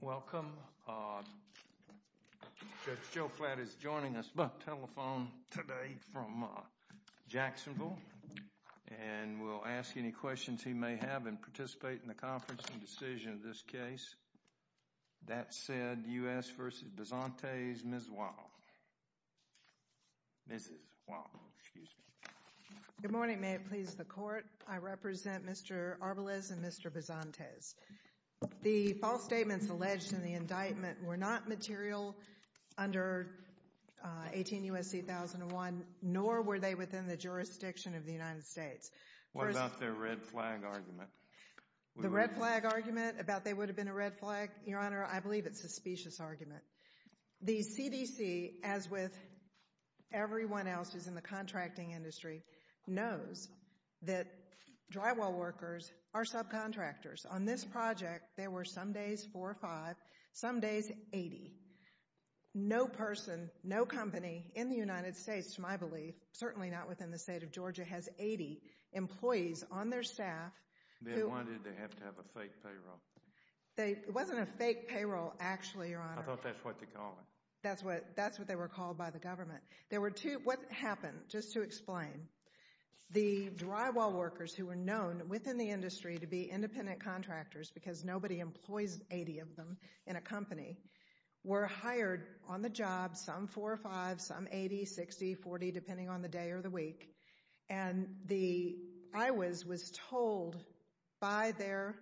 Welcome. Judge Joe Flatt is joining us by telephone today from Jacksonville, and we'll ask any questions he may have and participate in the conference and decision of this case. That said, U.S. v. Bazantes, Ms. Juan. Good morning. May it please the court. I represent Mr. Arbalez and Mr. Bazantes. The fall state statements alleged in the indictment were not material under 18 U.S.C. 1001, nor were they within the jurisdiction of the United States. What about their red flag argument? The red flag argument about they would have been a red flag? Your Honor, I believe it's a specious argument. The CDC, as with everyone else who's in the contracting industry, knows that drywall workers are subcontractors. On this project, there were some days four or five, some days 80. No person, no company in the United States, to my belief, certainly not within the state of Georgia, has 80 employees on their staff who— They wanted to have to have a fake payroll. It wasn't a fake payroll, actually, Your Honor. I thought that's what they called it. That's what they were called by the government. What happened? Just to explain. The drywall workers who were known within the industry to be independent contractors, because nobody employs 80 of them in a company, were hired on the job, some four or five, some 80, 60, 40, depending on the day or the week. And the IOWAS was told by their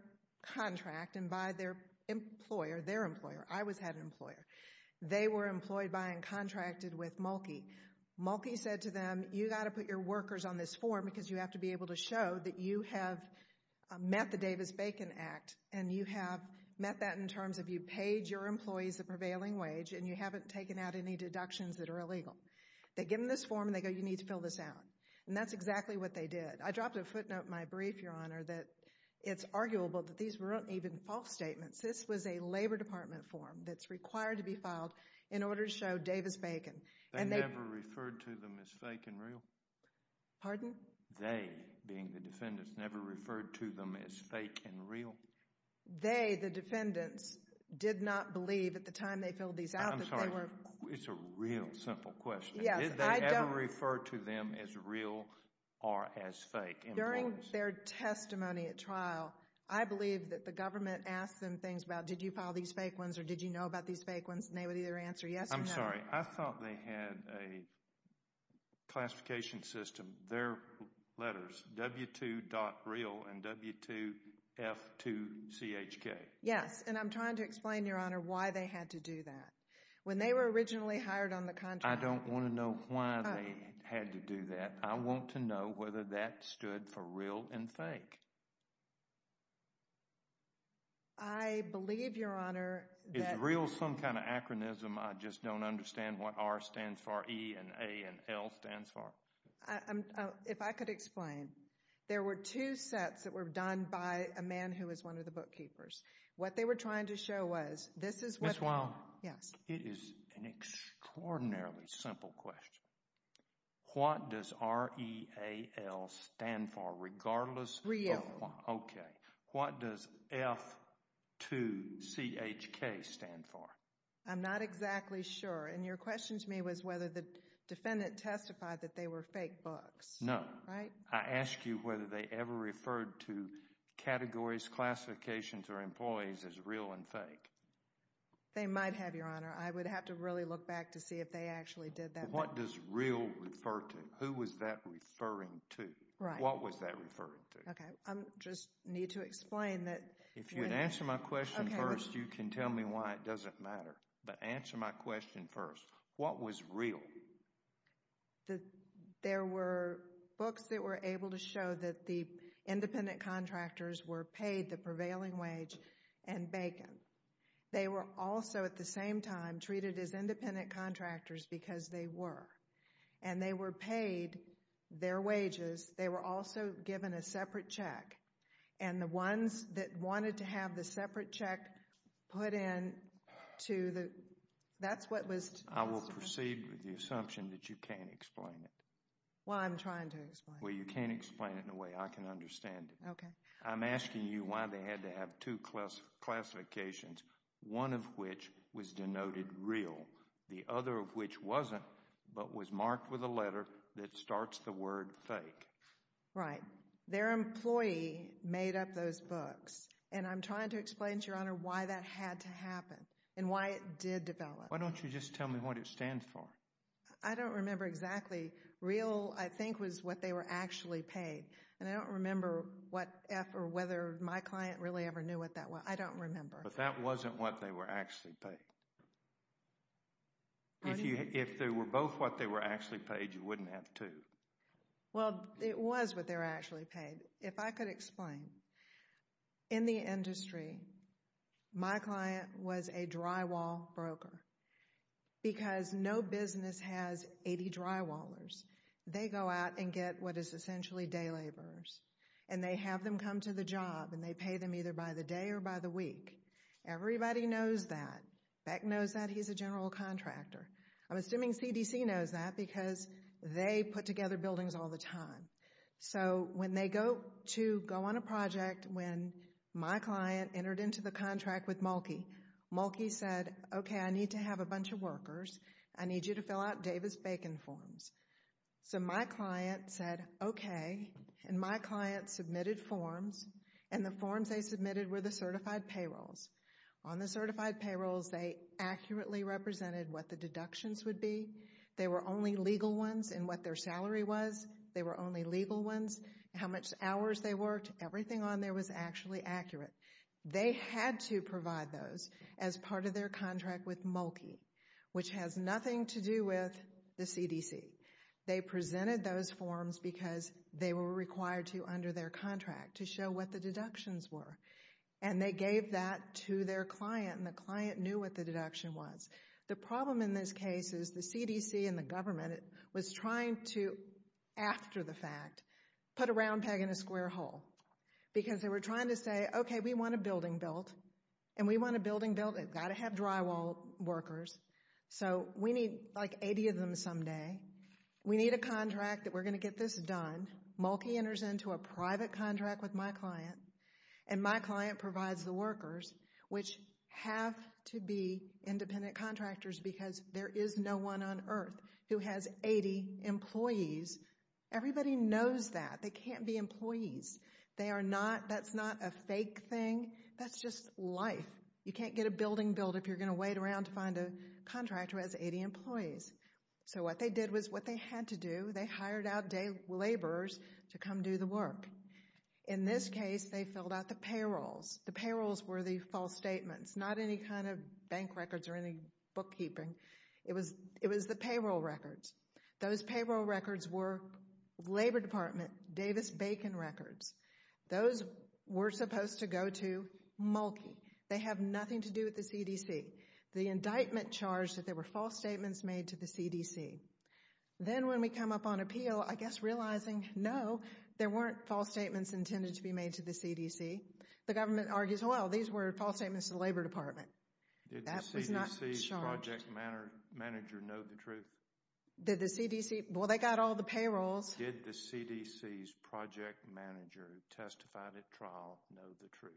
contract and by their employer, their employer, IOWAS had Mulkey. Mulkey said to them, you've got to put your workers on this form because you have to be able to show that you have met the Davis-Bacon Act and you have met that in terms of you paid your employees the prevailing wage and you haven't taken out any deductions that are illegal. They give them this form and they go, you need to fill this out. And that's exactly what they did. I dropped a footnote in my brief, Your Honor, that it's arguable that these weren't even false statements. This was a Labor Department form that's required to be filed in order to show Davis-Bacon. They never referred to them as fake and real? Pardon? They, being the defendants, never referred to them as fake and real? They, the defendants, did not believe at the time they filled these out that they were... I'm sorry, it's a real simple question. Yes, I don't... Did they ever refer to them as real or as fake employees? During their testimony at trial, I believe that the government asked them things about did you file these fake ones or did you know about these fake ones and they would either answer yes or no. I'm sorry, I thought they had a classification system. Their letters, W2.Real and W2F2CHK. Yes, and I'm trying to explain, Your Honor, why they had to do that. When they were originally hired on the contract... I don't want to know why they had to do that. I want to know whether that stood for real and fake. I believe, Your Honor, that... Is real some kind of anachronism? I just don't understand what R stands for, E and A and L stands for? If I could explain. There were two sets that were done by a man who was one of the bookkeepers. What they were trying to show was, this is what... Ms. Wilde. Yes. It is an extraordinarily simple question. What does R, E, A, L stand for, regardless... Real. Okay. What does F2CHK stand for? I'm not exactly sure. And your question to me was whether the defendant testified that they were fake books. No. Right? I asked you whether they ever referred to categories, classifications, or employees as real and fake. They might have, Your Honor. I would have to really look back to see if they actually did that. What does real refer to? Who was that referring to? What was that referring to? I just need to explain that... If you would answer my question first, you can tell me why it doesn't matter. But answer my question first. What was real? There were books that were able to show that the independent contractors were paid the prevailing wage and bacon. They were also, at the same time, treated as independent contractors because they were. And they were paid their wages. They were also given a separate check. And the ones that wanted to have the separate check put in to the... That's what was... I will proceed with the assumption that you can't explain it. Well, I'm trying to explain it. Well, you can't explain it in a way I can understand it. Okay. I'm asking you why they had to have two classifications. One of which was denoted real. The other of which wasn't, but was marked with a letter that starts the word fake. Right. Their employee made up those books. And I'm trying to explain to Your Honor why that had to happen. And why it did develop. Why don't you just tell me what it stands for? I don't remember exactly. Real, I think, was what they were actually paid. And I don't remember what F or whether my client really ever knew what that was. I don't remember. But that wasn't what they were actually paid. If they were both what they were actually paid, you wouldn't have two. Well, it was what they were actually paid. If I could explain. In the industry, my client was a drywall broker. Because no business has 80 drywallers. They go out and get what is essentially day laborers. And they have them come to the job. And they pay them either by the day or by the week. Everybody knows that. Beck knows that. He's a general contractor. I'm assuming CDC knows that. Because they put together buildings all the time. So when they go to go on a project, when my client entered into the contract with Mulkey. Mulkey said, okay, I need to have a bunch of workers. I need you to fill out Davis-Bacon forms. So my client said, okay. And my client submitted forms. And the forms they submitted were the certified payrolls. On the certified payrolls, they accurately represented what the deductions would be. They were only legal ones in what their salary was. They were only legal ones how much hours they worked. Everything on there was actually accurate. They had to provide those as part of their contract with Mulkey, which has nothing to do with the CDC. They presented those forms because they were required to under their contract to show what the deductions were. And they gave that to their client, and the client knew what the deduction was. The problem in this case is the CDC and the government was trying to, after the fact, put a round peg in a square hole. Because they were trying to say, okay, we want a building built. And we want a building built. It's got to have drywall workers. So we need like 80 of them someday. We need a contract that we're going to get this done. Mulkey enters into a private contract with my client. And my client provides the workers, which have to be independent contractors because there is no one on earth who has 80 employees. Everybody knows that. They can't be employees. That's not a fake thing. That's just life. You can't get a building built if you're going to wait around to find a contractor who has 80 employees. So what they did was what they had to do. They hired out day laborers to come do the work. In this case, they filled out the payrolls. The payrolls were the false statements, not any kind of bank records or any bookkeeping. It was the payroll records. Those payroll records were Labor Department Davis-Bacon records. Those were supposed to go to Mulkey. They have nothing to do with the CDC. The indictment charged that there were false statements made to the CDC. Then when we come up on appeal, I guess realizing, no, there weren't false statements intended to be made to the CDC, the government argues, well, these were false statements to the Labor Department. That was not charged. Did the CDC's project manager know the truth? Well, they got all the payrolls. Did the CDC's project manager who testified at trial know the truth?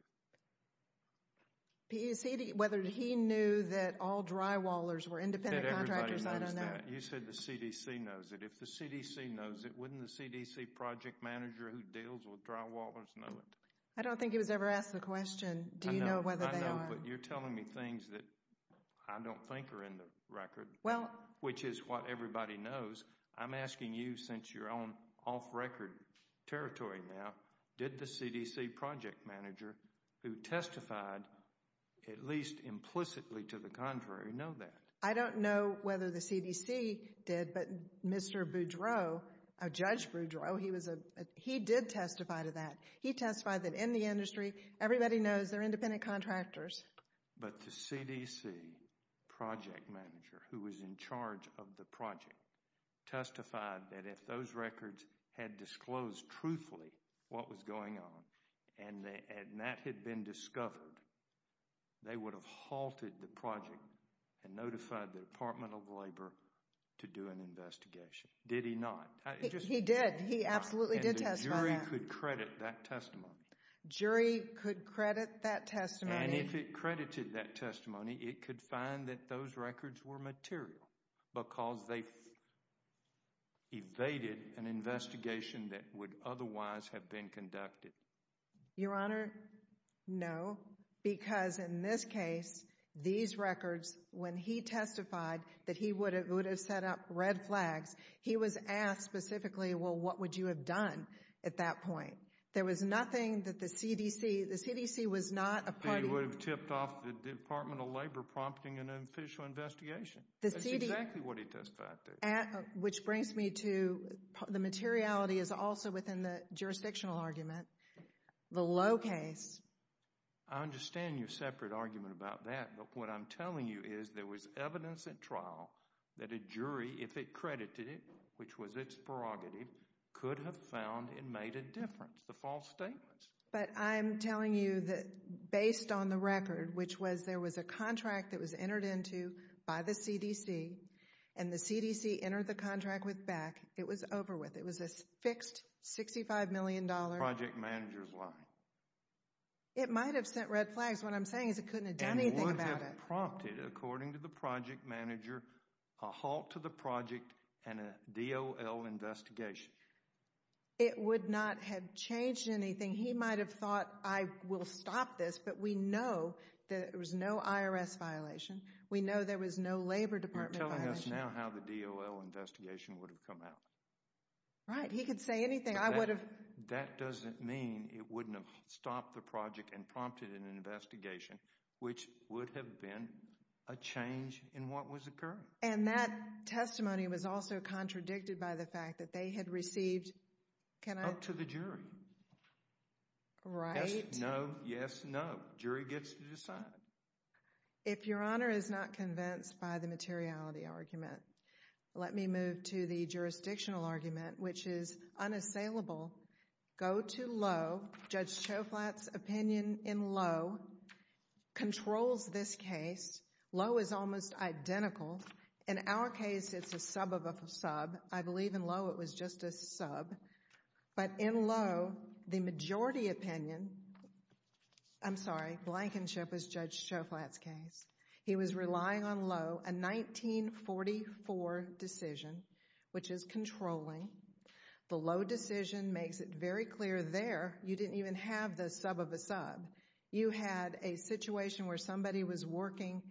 Whether he knew that all drywallers were independent contractors, I don't know. You said the CDC knows it. If the CDC knows it, wouldn't the CDC project manager who deals with drywallers know it? I don't think he was ever asked the question, do you know whether they are? But you're telling me things that I don't think are in the record, which is what everybody knows. I'm asking you, since you're on off-record territory now, did the CDC project manager who testified at least implicitly to the contrary know that? I don't know whether the CDC did, but Mr. Boudreau, Judge Boudreau, he did testify to that. He testified that in the industry, everybody knows they're independent contractors. But the CDC project manager who was in charge of the project testified that if those records had disclosed truthfully what was going on and that had been discovered, they would have halted the project and notified the Department of Labor to do an investigation. Did he not? He did. He absolutely did testify that. And you could credit that testimony? Jury could credit that testimony. And if it credited that testimony, it could find that those records were material because they evaded an investigation that would otherwise have been conducted. Your Honor, no, because in this case, these records, when he testified that he would have set up red flags, he was asked specifically, well, what would you have done at that point? There was nothing that the CDC, the CDC was not a party. They would have tipped off the Department of Labor prompting an official investigation. That's exactly what he testified to. Which brings me to the materiality is also within the jurisdictional argument. The low case. I understand your separate argument about that. But what I'm telling you is there was evidence at trial that a jury, if it credited it, which was its prerogative, could have found and made a difference, the false statements. But I'm telling you that based on the record, which was there was a contract that was entered into by the CDC and the CDC entered the contract with BAC, it was over with. It was a fixed $65 million. Project manager's lying. It might have sent red flags. What I'm saying is it couldn't have done anything about it. It would have prompted, according to the project manager, a halt to the project and a DOL investigation. It would not have changed anything. He might have thought, I will stop this. But we know that there was no IRS violation. We know there was no Labor Department violation. You're telling us now how the DOL investigation would have come out. Right. He could say anything. That doesn't mean it wouldn't have stopped the project and prompted an investigation, which would have been a change in what was occurring. And that testimony was also contradicted by the fact that they had received— Up to the jury. Right. Yes, no. Yes, no. Jury gets to decide. If Your Honor is not convinced by the materiality argument, let me move to the jurisdictional argument, which is unassailable. Go to Lowe. Judge Choflat's opinion in Lowe controls this case. Lowe is almost identical. In our case, it's a sub of a sub. I believe in Lowe it was just a sub. But in Lowe, the majority opinion—I'm sorry, Blankenship was Judge Choflat's case. He was relying on Lowe, a 1944 decision, which is controlling. The Lowe decision makes it very clear there you didn't even have the sub of a sub. You had a situation where somebody was working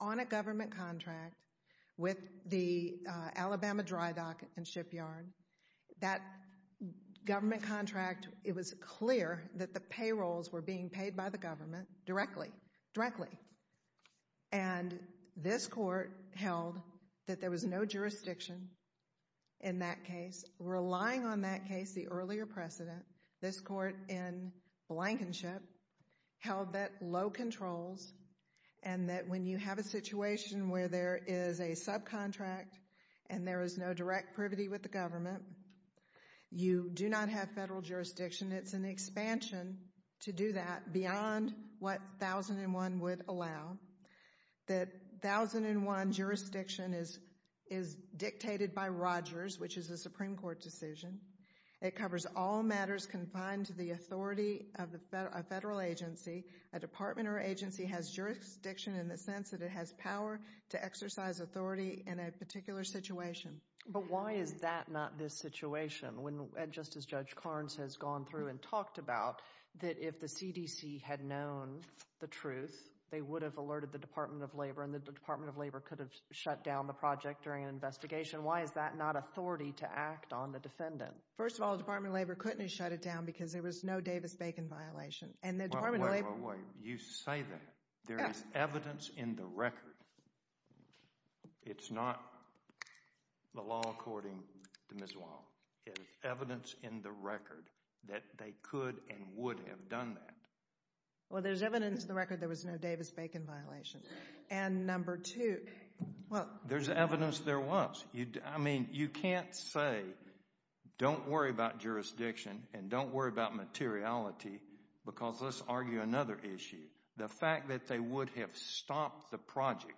on a government contract with the Alabama dry dock and shipyard. That government contract, it was clear that the payrolls were being paid by the government directly. Directly. And this court held that there was no jurisdiction in that case. Relying on that case, the earlier precedent, this court in Blankenship held that Lowe controls and that when you have a situation where there is a subcontract and there is no direct privity with the government, you do not have federal jurisdiction. It's an expansion to do that beyond what 1001 would allow. That 1001 jurisdiction is dictated by Rogers, which is a Supreme Court decision. It covers all matters confined to the authority of a federal agency. A department or agency has jurisdiction in the sense that it has power to exercise authority in a particular situation. But why is that not this situation? Just as Judge Carnes has gone through and talked about, that if the CDC had known the truth, they would have alerted the Department of Labor and the Department of Labor could have shut down the project during an investigation. Why is that not authority to act on the defendant? First of all, the Department of Labor couldn't have shut it down because there was no Davis-Bacon violation. And the Department of Labor— Wait, wait, wait. You say that. There is evidence in the record. It's not the law according to Ms. Wong. It's evidence in the record that they could and would have done that. Well, there's evidence in the record there was no Davis-Bacon violation. And number two— There's evidence there was. I mean, you can't say, don't worry about jurisdiction and don't worry about materiality because let's argue another issue. The fact that they would have stopped the project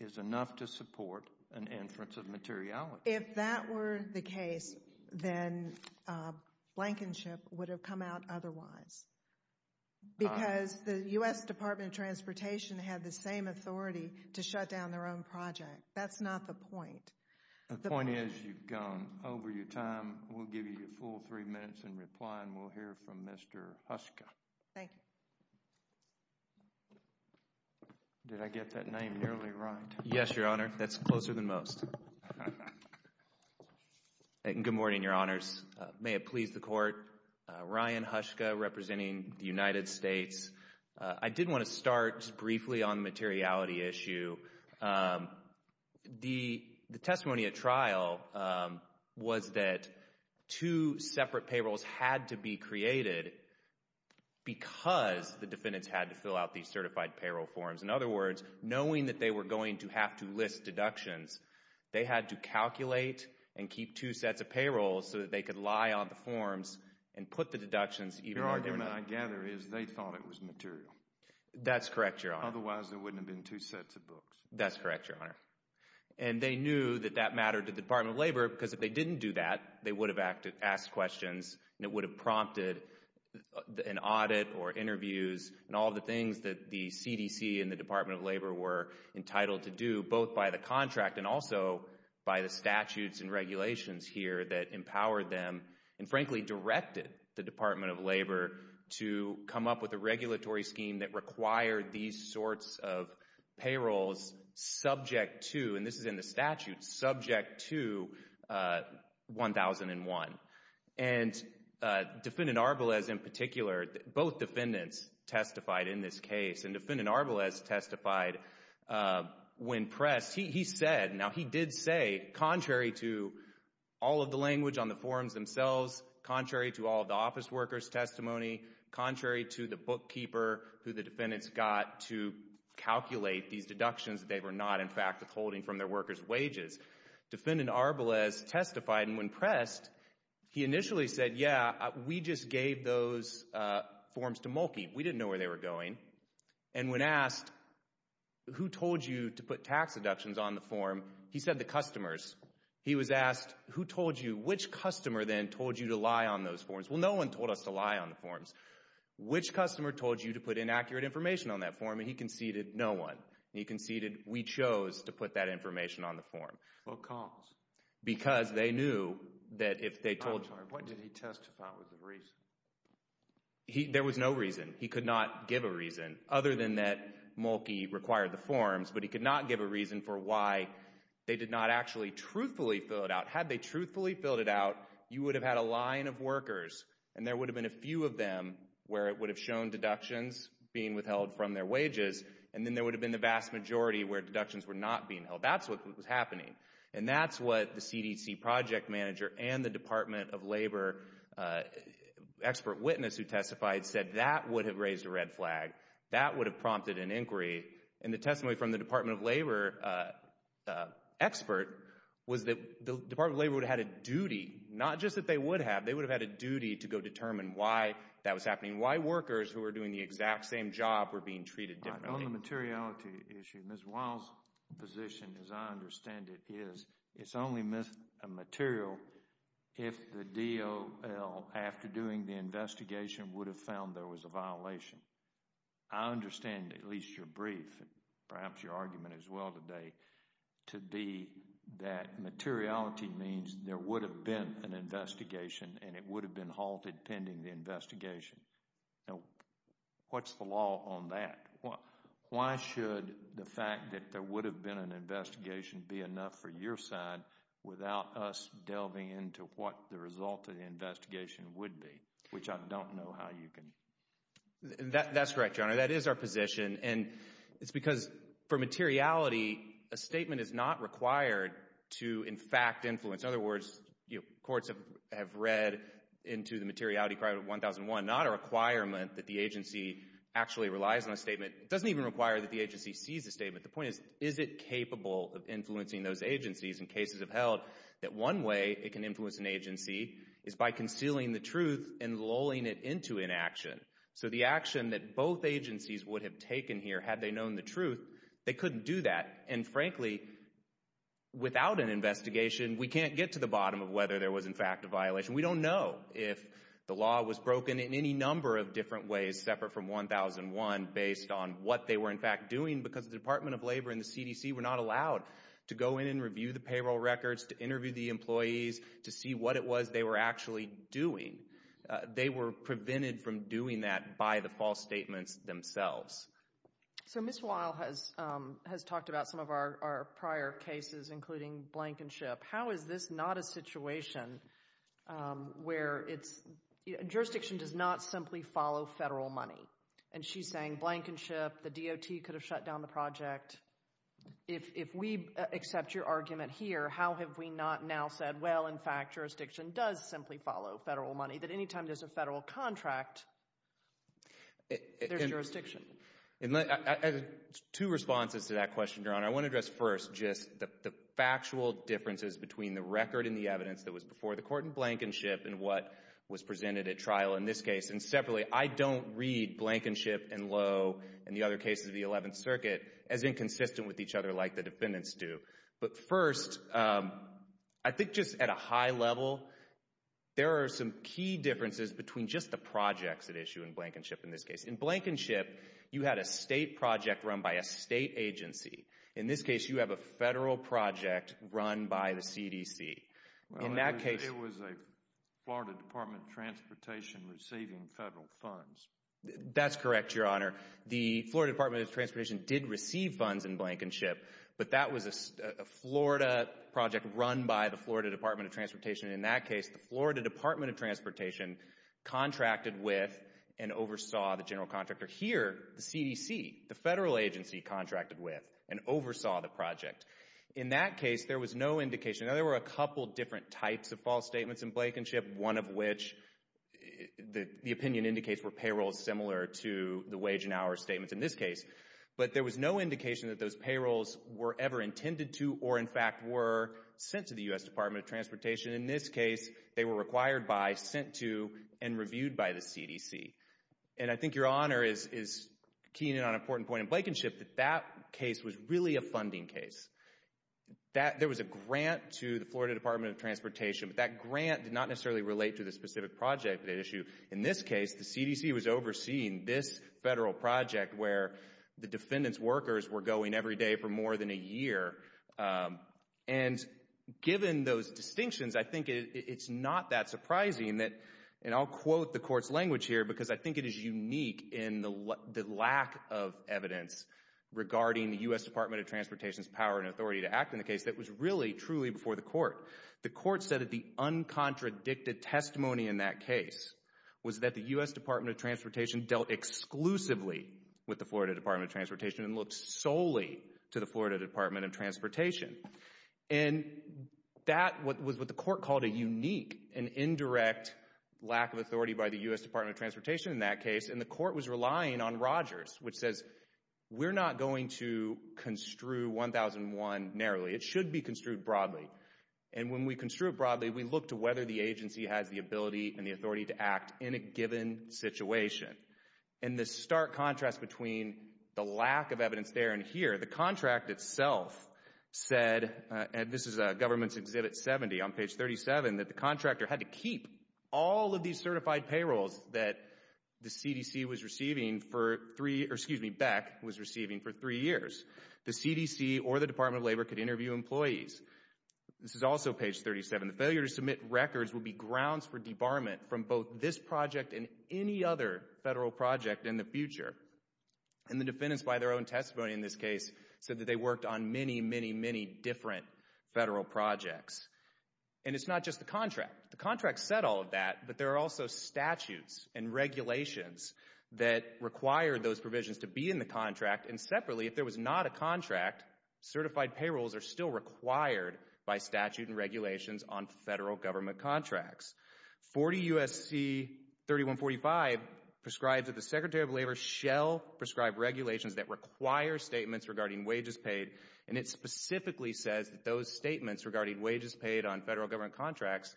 is enough to support an inference of materiality. If that were the case, then Blankenship would have come out otherwise. Because the U.S. Department of Transportation had the same authority to shut down their own project. That's not the point. The point is you've gone over your time. We'll give you your full three minutes in reply, and we'll hear from Mr. Huska. Thank you. Did I get that name nearly right? Yes, Your Honor. That's closer than most. Good morning, Your Honors. May it please the Court. Ryan Huska representing the United States. I did want to start briefly on the materiality issue. The testimony at trial was that two separate payrolls had to be created because the defendants had to fill out these certified payroll forms. In other words, knowing that they were going to have to list deductions, they had to calculate and keep two sets of payrolls so that they could lie on the forms and put the deductions even when they were not. What I gather is they thought it was material. That's correct, Your Honor. Otherwise, there wouldn't have been two sets of books. That's correct, Your Honor. And they knew that that mattered to the Department of Labor because if they didn't do that, they would have asked questions and it would have prompted an audit or interviews and all the things that the CDC and the Department of Labor were entitled to do, both by the contract and also by the statutes and regulations here that empowered them and frankly directed the Department of Labor to come up with a regulatory scheme that required these sorts of payrolls subject to, and this is in the statute, subject to 1001. And Defendant Arbelez in particular, both defendants testified in this case and Defendant Arbelez testified when pressed. He said, now he did say, contrary to all of the language on the forms themselves, contrary to all of the office workers' testimony, contrary to the bookkeeper who the defendants got to calculate these deductions that they were not in fact withholding from their workers' wages. Defendant Arbelez testified and when pressed, he initially said, yeah, we just gave those forms to Mulkey. We didn't know where they were going. And when asked, who told you to put tax deductions on the form, he said the customers. He was asked, who told you, which customer then told you to lie on those forms? Well, no one told us to lie on the forms. Which customer told you to put inaccurate information on that form? And he conceded, no one. He conceded we chose to put that information on the form. What cause? Because they knew that if they told— I'm sorry, what did he testify was the reason? There was no reason. He could not give a reason other than that Mulkey required the forms. But he could not give a reason for why they did not actually truthfully fill it out. Had they truthfully filled it out, you would have had a line of workers and there would have been a few of them where it would have shown deductions being withheld from their wages. And then there would have been the vast majority where deductions were not being held. That's what was happening. And that's what the CDC project manager and the Department of Labor expert witness who testified said that would have raised a red flag. That would have prompted an inquiry. And the testimony from the Department of Labor expert was that the Department of Labor would have had a duty, not just that they would have. They would have had a duty to go determine why that was happening, why workers who were doing the exact same job were being treated differently. On the materiality issue, Ms. Wiles' position, as I understand it, is it's only a material if the DOL, after doing the investigation, would have found there was a violation. I understand, at least your brief, perhaps your argument as well today, to be that materiality means there would have been an investigation and it would have been halted pending the investigation. Now, what's the law on that? Why should the fact that there would have been an investigation be enough for your side without us delving into what the result of the investigation would be, which I don't know how you can. That's correct, Your Honor. That is our position. And it's because for materiality, a statement is not required to, in fact, influence. In other words, courts have read into the materiality crime of 1001, not a requirement that the agency actually relies on a statement. It doesn't even require that the agency sees the statement. The point is, is it capable of influencing those agencies? And cases have held that one way it can influence an agency is by concealing the truth and lulling it into inaction. So the action that both agencies would have taken here had they known the truth, they couldn't do that. And frankly, without an investigation, we can't get to the bottom of whether there was, in fact, a violation. We don't know if the law was broken in any number of different ways separate from 1001 based on what they were, in fact, doing. Because the Department of Labor and the CDC were not allowed to go in and review the payroll records, to interview the employees, to see what it was they were actually doing. They were prevented from doing that by the false statements themselves. So Ms. Weil has talked about some of our prior cases, including Blankenship. How is this not a situation where it's – jurisdiction does not simply follow federal money? And she's saying Blankenship, the DOT could have shut down the project. If we accept your argument here, how have we not now said, well, in fact, jurisdiction does simply follow federal money. That any time there's a federal contract, there's jurisdiction. Two responses to that question, Your Honor. I want to address first just the factual differences between the record and the evidence that was before the court in Blankenship and what was presented at trial in this case. And separately, I don't read Blankenship and Lowe and the other cases of the Eleventh Circuit as inconsistent with each other like the defendants do. But first, I think just at a high level, there are some key differences between just the projects at issue in Blankenship in this case. In Blankenship, you had a state project run by a state agency. In this case, you have a federal project run by the CDC. Well, it was a Florida Department of Transportation receiving federal funds. That's correct, Your Honor. The Florida Department of Transportation did receive funds in Blankenship, but that was a Florida project run by the Florida Department of Transportation. In that case, the Florida Department of Transportation contracted with and oversaw the general contractor. Here, the CDC, the federal agency, contracted with and oversaw the project. In that case, there was no indication. Now, there were a couple different types of false statements in Blankenship, one of which the opinion indicates were payrolls similar to the wage and hour statements in this case. But there was no indication that those payrolls were ever intended to or, in fact, were sent to the U.S. Department of Transportation. In this case, they were required by, sent to, and reviewed by the CDC. And I think Your Honor is keying in on an important point in Blankenship that that case was really a funding case. There was a grant to the Florida Department of Transportation, but that grant did not necessarily relate to the specific project they'd issue. In this case, the CDC was overseeing this federal project where the defendant's workers were going every day for more than a year. And given those distinctions, I think it's not that surprising that, and I'll quote the court's language here, because I think it is unique in the lack of evidence regarding the U.S. Department of Transportation's power and authority to act in the case that was really, truly before the court. The court said that the uncontradicted testimony in that case was that the U.S. Department of Transportation dealt exclusively with the Florida Department of Transportation and looked solely to the Florida Department of Transportation. And that was what the court called a unique and indirect lack of authority by the U.S. Department of Transportation in that case. And the court was relying on Rogers, which says we're not going to construe 1001 narrowly. It should be construed broadly. And when we construe it broadly, we look to whether the agency has the ability and the authority to act in a given situation. And the stark contrast between the lack of evidence there and here, the contract itself said, and this is Government's Exhibit 70 on page 37, that the contractor had to keep all of these certified payrolls that the CDC was receiving for three, or excuse me, BECC was receiving for three years. The CDC or the Department of Labor could interview employees. This is also page 37. The failure to submit records would be grounds for debarment from both this project and any other federal project in the future. And the defendants by their own testimony in this case said that they worked on many, many, many different federal projects. And it's not just the contract. The contract said all of that, but there are also statutes and regulations that require those provisions to be in the contract. And separately, if there was not a contract, certified payrolls are still required by statute and regulations on federal government contracts. 40 U.S.C. 3145 prescribes that the Secretary of Labor shall prescribe regulations that require statements regarding wages paid. And it specifically says that those statements regarding wages paid on federal government contracts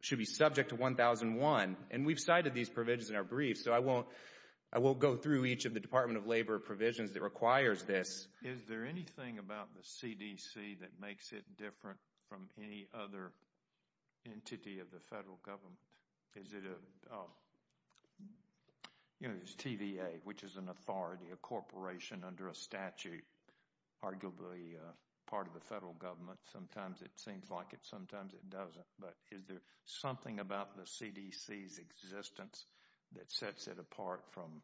should be subject to 1001. And we've cited these provisions in our brief, so I won't go through each of the Department of Labor provisions that requires this. Is there anything about the CDC that makes it different from any other entity of the federal government? Is it a, you know, there's TVA, which is an authority, a corporation under a statute, arguably part of the federal government. Sometimes it seems like it, sometimes it doesn't. But is there something about the CDC's existence that sets it apart from,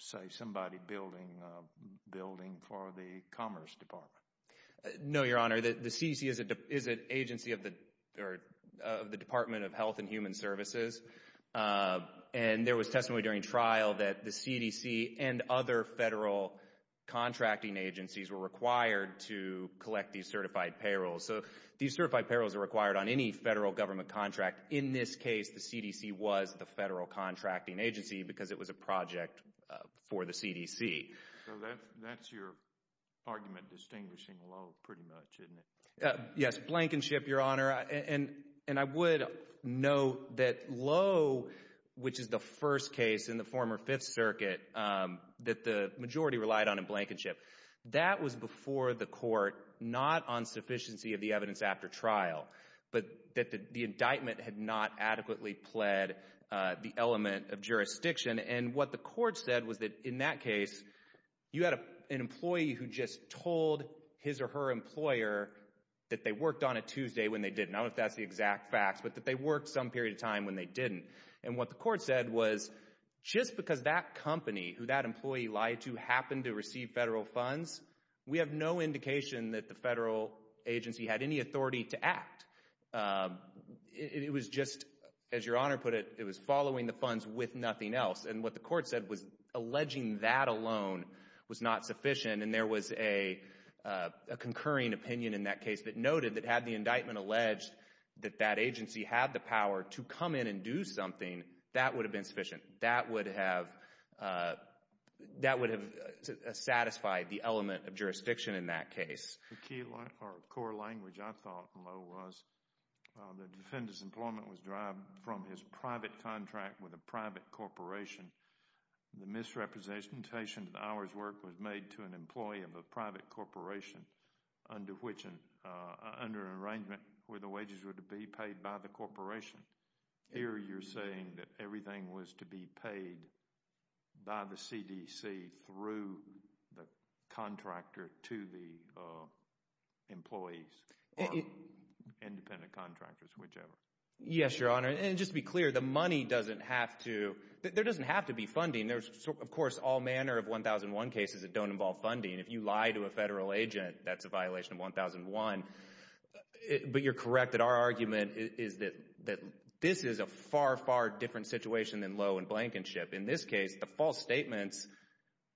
say, somebody building a building for the Commerce Department? No, Your Honor. The CDC is an agency of the Department of Health and Human Services. And there was testimony during trial that the CDC and other federal contracting agencies were required to collect these certified payrolls. So these certified payrolls are required on any federal government contract. In this case, the CDC was the federal contracting agency because it was a project for the CDC. So that's your argument distinguishing Lowe pretty much, isn't it? Yes, Blankenship, Your Honor. And I would note that Lowe, which is the first case in the former Fifth Circuit that the majority relied on in Blankenship, that was before the court, not on sufficiency of the evidence after trial, but that the indictment had not adequately pled the element of jurisdiction. And what the court said was that in that case, you had an employee who just told his or her employer that they worked on a Tuesday when they didn't. I don't know if that's the exact facts, but that they worked some period of time when they didn't. And what the court said was just because that company who that employee lied to happened to receive federal funds, we have no indication that the federal agency had any authority to act. It was just, as Your Honor put it, it was following the funds with nothing else. And what the court said was alleging that alone was not sufficient. And there was a concurring opinion in that case that noted that had the indictment alleged that that agency had the power to come in and do something, that would have been sufficient. That would have satisfied the element of jurisdiction in that case. The key or core language, I thought, Lowe, was the defendant's employment was derived from his private contract with a private corporation. The misrepresentation of the hours work was made to an employee of a private corporation under an arrangement where the wages were to be paid by the corporation. Here you're saying that everything was to be paid by the CDC through the contractor to the employees or independent contractors, whichever. Yes, Your Honor. And just to be clear, the money doesn't have to, there doesn't have to be funding. There's, of course, all manner of 1001 cases that don't involve funding. If you lie to a federal agent, that's a violation of 1001. But you're correct that our argument is that this is a far, far different situation than Lowe and Blankenship. In this case, the false statements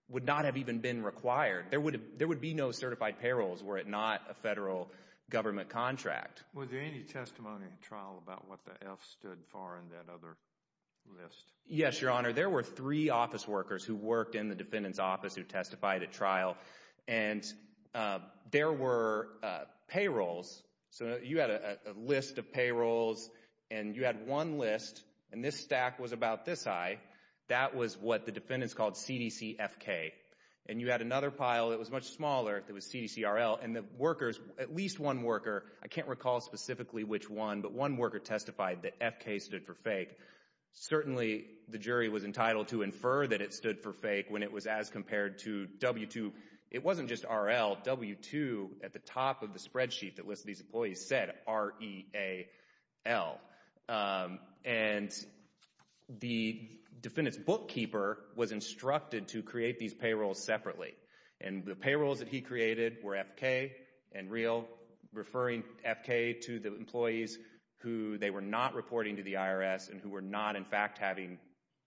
would not have even been required. There would be no certified payrolls were it not a federal government contract. Was there any testimony in trial about what the F stood for in that other list? Yes, Your Honor. There were three office workers who worked in the defendant's office who testified at trial, and there were payrolls. So you had a list of payrolls, and you had one list, and this stack was about this high. That was what the defendants called CDC FK. And you had another pile that was much smaller that was CDC RL. And the workers, at least one worker, I can't recall specifically which one, but one worker testified that FK stood for fake. Certainly, the jury was entitled to infer that it stood for fake when it was as compared to W2. It wasn't just RL. W2 at the top of the spreadsheet that lists these employees said R-E-A-L. And the defendant's bookkeeper was instructed to create these payrolls separately. And the payrolls that he created were FK and RL, referring FK to the employees who they were not reporting to the IRS and who were not, in fact, having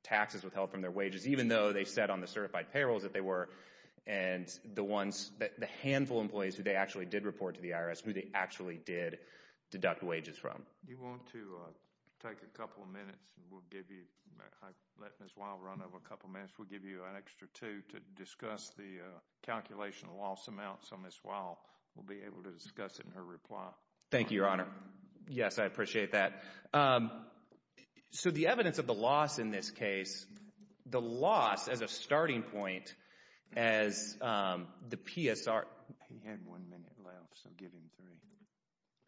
taxes withheld from their wages, even though they said on the certified payrolls that they were. And the handful of employees who they actually did report to the IRS, who they actually did deduct wages from. Do you want to take a couple of minutes? I'll let Ms. Wilde run over a couple of minutes. We'll give you an extra two to discuss the calculation of loss amounts. So Ms. Wilde will be able to discuss it in her reply. Thank you, Your Honor. Yes, I appreciate that. So the evidence of the loss in this case, the loss as a starting point as the PSR— He had one minute left, so give him three.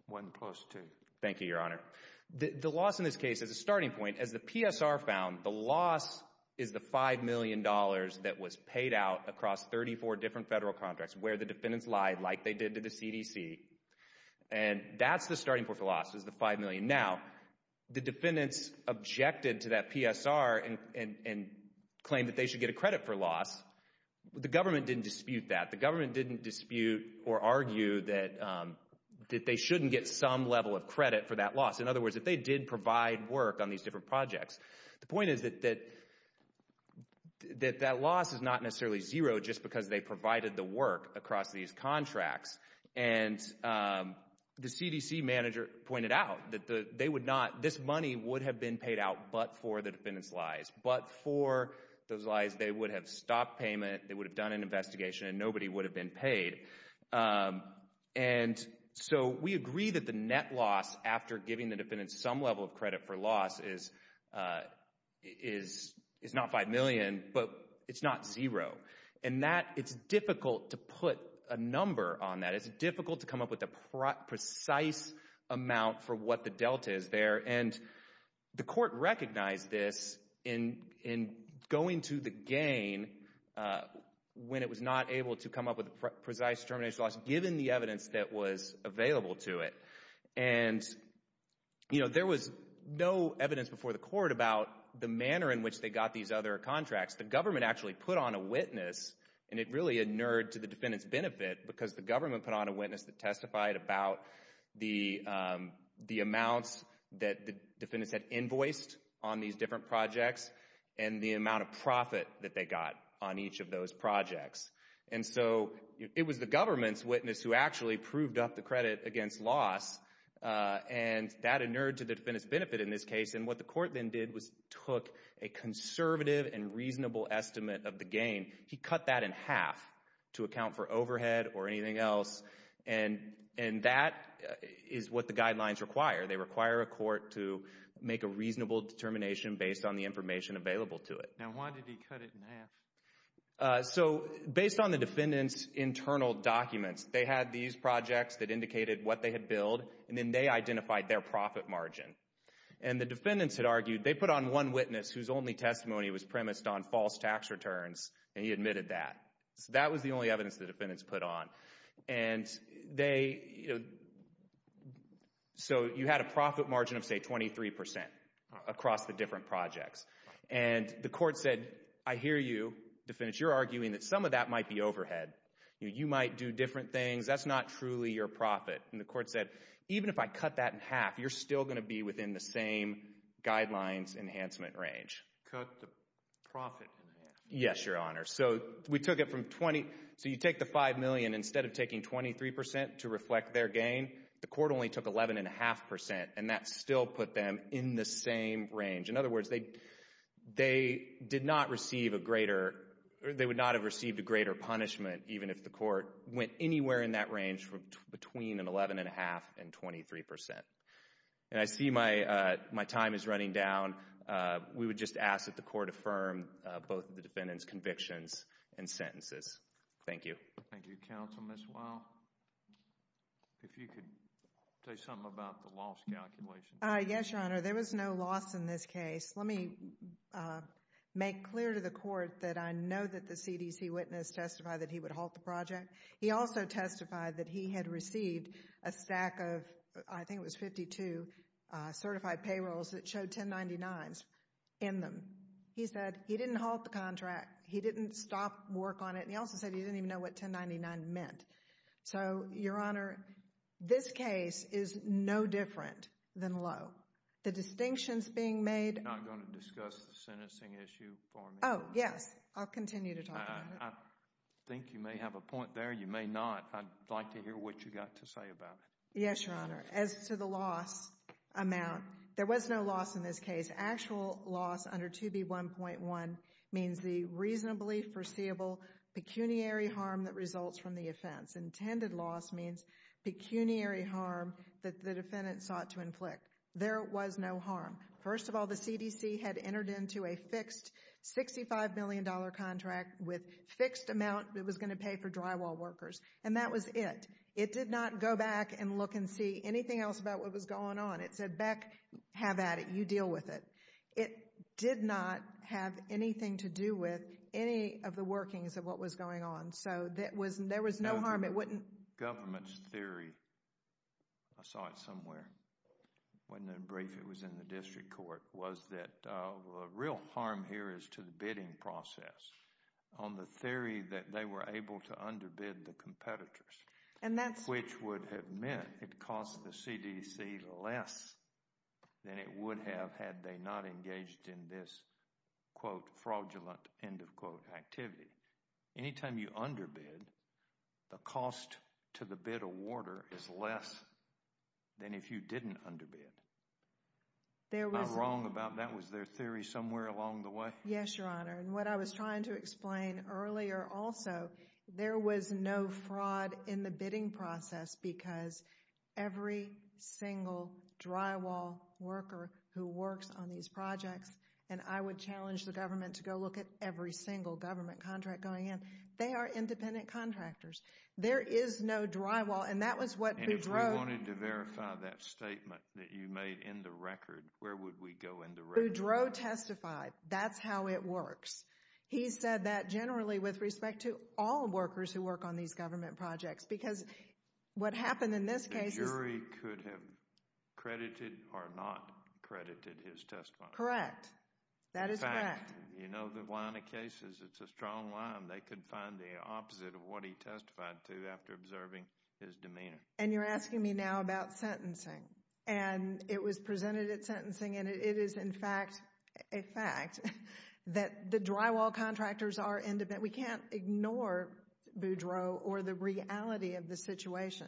One plus two. Thank you, Your Honor. The loss in this case as a starting point, as the PSR found, the loss is the $5 million that was paid out across 34 different federal contracts, where the defendants lied like they did to the CDC. And that's the starting point for loss is the $5 million. Now, the defendants objected to that PSR and claimed that they should get a credit for loss. The government didn't dispute that. That they shouldn't get some level of credit for that loss. In other words, that they did provide work on these different projects. The point is that that loss is not necessarily zero just because they provided the work across these contracts. And the CDC manager pointed out that they would not—this money would have been paid out but for the defendants' lies. But for those lies, they would have stopped payment, they would have done an investigation, and nobody would have been paid. And so we agree that the net loss after giving the defendants some level of credit for loss is not $5 million, but it's not zero. And that—it's difficult to put a number on that. It's difficult to come up with a precise amount for what the delta is there. And the court recognized this in going to the gain when it was not able to come up with a precise termination loss given the evidence that was available to it. And there was no evidence before the court about the manner in which they got these other contracts. The government actually put on a witness, and it really inured to the defendants' benefit because the government put on a witness that testified about the amounts that the defendants had invoiced on these different projects and the amount of profit that they got on each of those projects. And so it was the government's witness who actually proved up the credit against loss, and that inured to the defendants' benefit in this case. And what the court then did was took a conservative and reasonable estimate of the gain. He cut that in half to account for overhead or anything else, and that is what the guidelines require. They require a court to make a reasonable determination based on the information available to it. Now, why did he cut it in half? So based on the defendants' internal documents, they had these projects that indicated what they had billed, and then they identified their profit margin. And the defendants had argued they put on one witness whose only testimony was premised on false tax returns, and he admitted that. So that was the only evidence the defendants put on. And so you had a profit margin of, say, 23 percent across the different projects. And the court said, I hear you, defendants. You're arguing that some of that might be overhead. You might do different things. That's not truly your profit. And the court said, even if I cut that in half, you're still going to be within the same guidelines enhancement range. Cut the profit in half. Yes, Your Honor. So we took it from 20. So you take the $5 million. Instead of taking 23 percent to reflect their gain, the court only took 11.5 percent, and that still put them in the same range. In other words, they did not receive a greater – they would not have received a greater punishment even if the court went anywhere in that range between an 11.5 and 23 percent. And I see my time is running down. We would just ask that the court affirm both the defendants' convictions and sentences. Thank you. Thank you, counsel. Ms. Weil, if you could say something about the loss calculation. Yes, Your Honor. There was no loss in this case. Let me make clear to the court that I know that the CDC witness testified that he would halt the project. He also testified that he had received a stack of, I think it was 52, certified payrolls that showed 1099s in them. He said he didn't halt the contract. He didn't stop work on it. And he also said he didn't even know what 1099 meant. So, Your Honor, this case is no different than Lowe. The distinctions being made – You're not going to discuss the sentencing issue for me? Oh, yes. I'll continue to talk about it. I think you may have a point there. You may not. I'd like to hear what you've got to say about it. Yes, Your Honor. As to the loss amount, there was no loss in this case. Actual loss under 2B1.1 means the reasonably foreseeable pecuniary harm that results from the offense. Intended loss means pecuniary harm that the defendant sought to inflict. There was no harm. First of all, the CDC had entered into a fixed $65 million contract with fixed amount it was going to pay for drywall workers. And that was it. It did not go back and look and see anything else about what was going on. It said, Beck, have at it. You deal with it. It did not have anything to do with any of the workings of what was going on. So, there was no harm. It wouldn't – Government's theory – I saw it somewhere. It wasn't in a brief. It was in the district court. It was that the real harm here is to the bidding process on the theory that they were able to underbid the competitors. And that's – than it would have had they not engaged in this, quote, fraudulent, end of quote, activity. Anytime you underbid, the cost to the bid awarder is less than if you didn't underbid. There was – How wrong about that? Was there a theory somewhere along the way? Yes, Your Honor. And what I was trying to explain earlier also, there was no fraud in the bidding process because every single drywall worker who works on these projects – and I would challenge the government to go look at every single government contract going in. They are independent contractors. There is no drywall. And that was what Boudreau – And if we wanted to verify that statement that you made in the record, where would we go in the record? Boudreau testified. That's how it works. He said that generally with respect to all workers who work on these government projects because what happened in this case is – The jury could have credited or not credited his testimony. Correct. That is correct. In fact, you know, the line of cases, it's a strong line. They could find the opposite of what he testified to after observing his demeanor. And you're asking me now about sentencing. And it was presented at sentencing, and it is, in fact, a fact that the drywall contractors are independent. The fact that we can't ignore Boudreau or the reality of the situation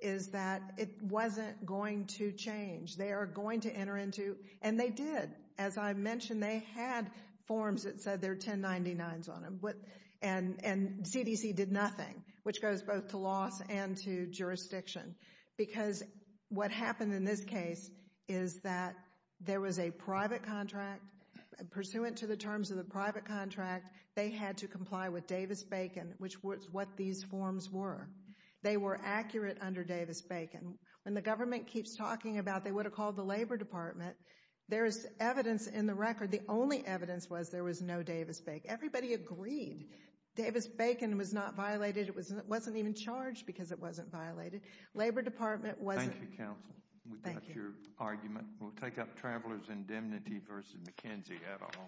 is that it wasn't going to change. They are going to enter into – and they did. As I mentioned, they had forms that said there were 1099s on them. And CDC did nothing, which goes both to loss and to jurisdiction. Because what happened in this case is that there was a private contract. Pursuant to the terms of the private contract, they had to comply with Davis-Bacon, which was what these forms were. They were accurate under Davis-Bacon. When the government keeps talking about they would have called the Labor Department, there is evidence in the record. The only evidence was there was no Davis-Bacon. Everybody agreed Davis-Bacon was not violated. It wasn't even charged because it wasn't violated. Labor Department wasn't. Thank you, counsel. Thank you. Any further argument? We'll take up Travelers' Indemnity v. McKenzie et al. Thank you.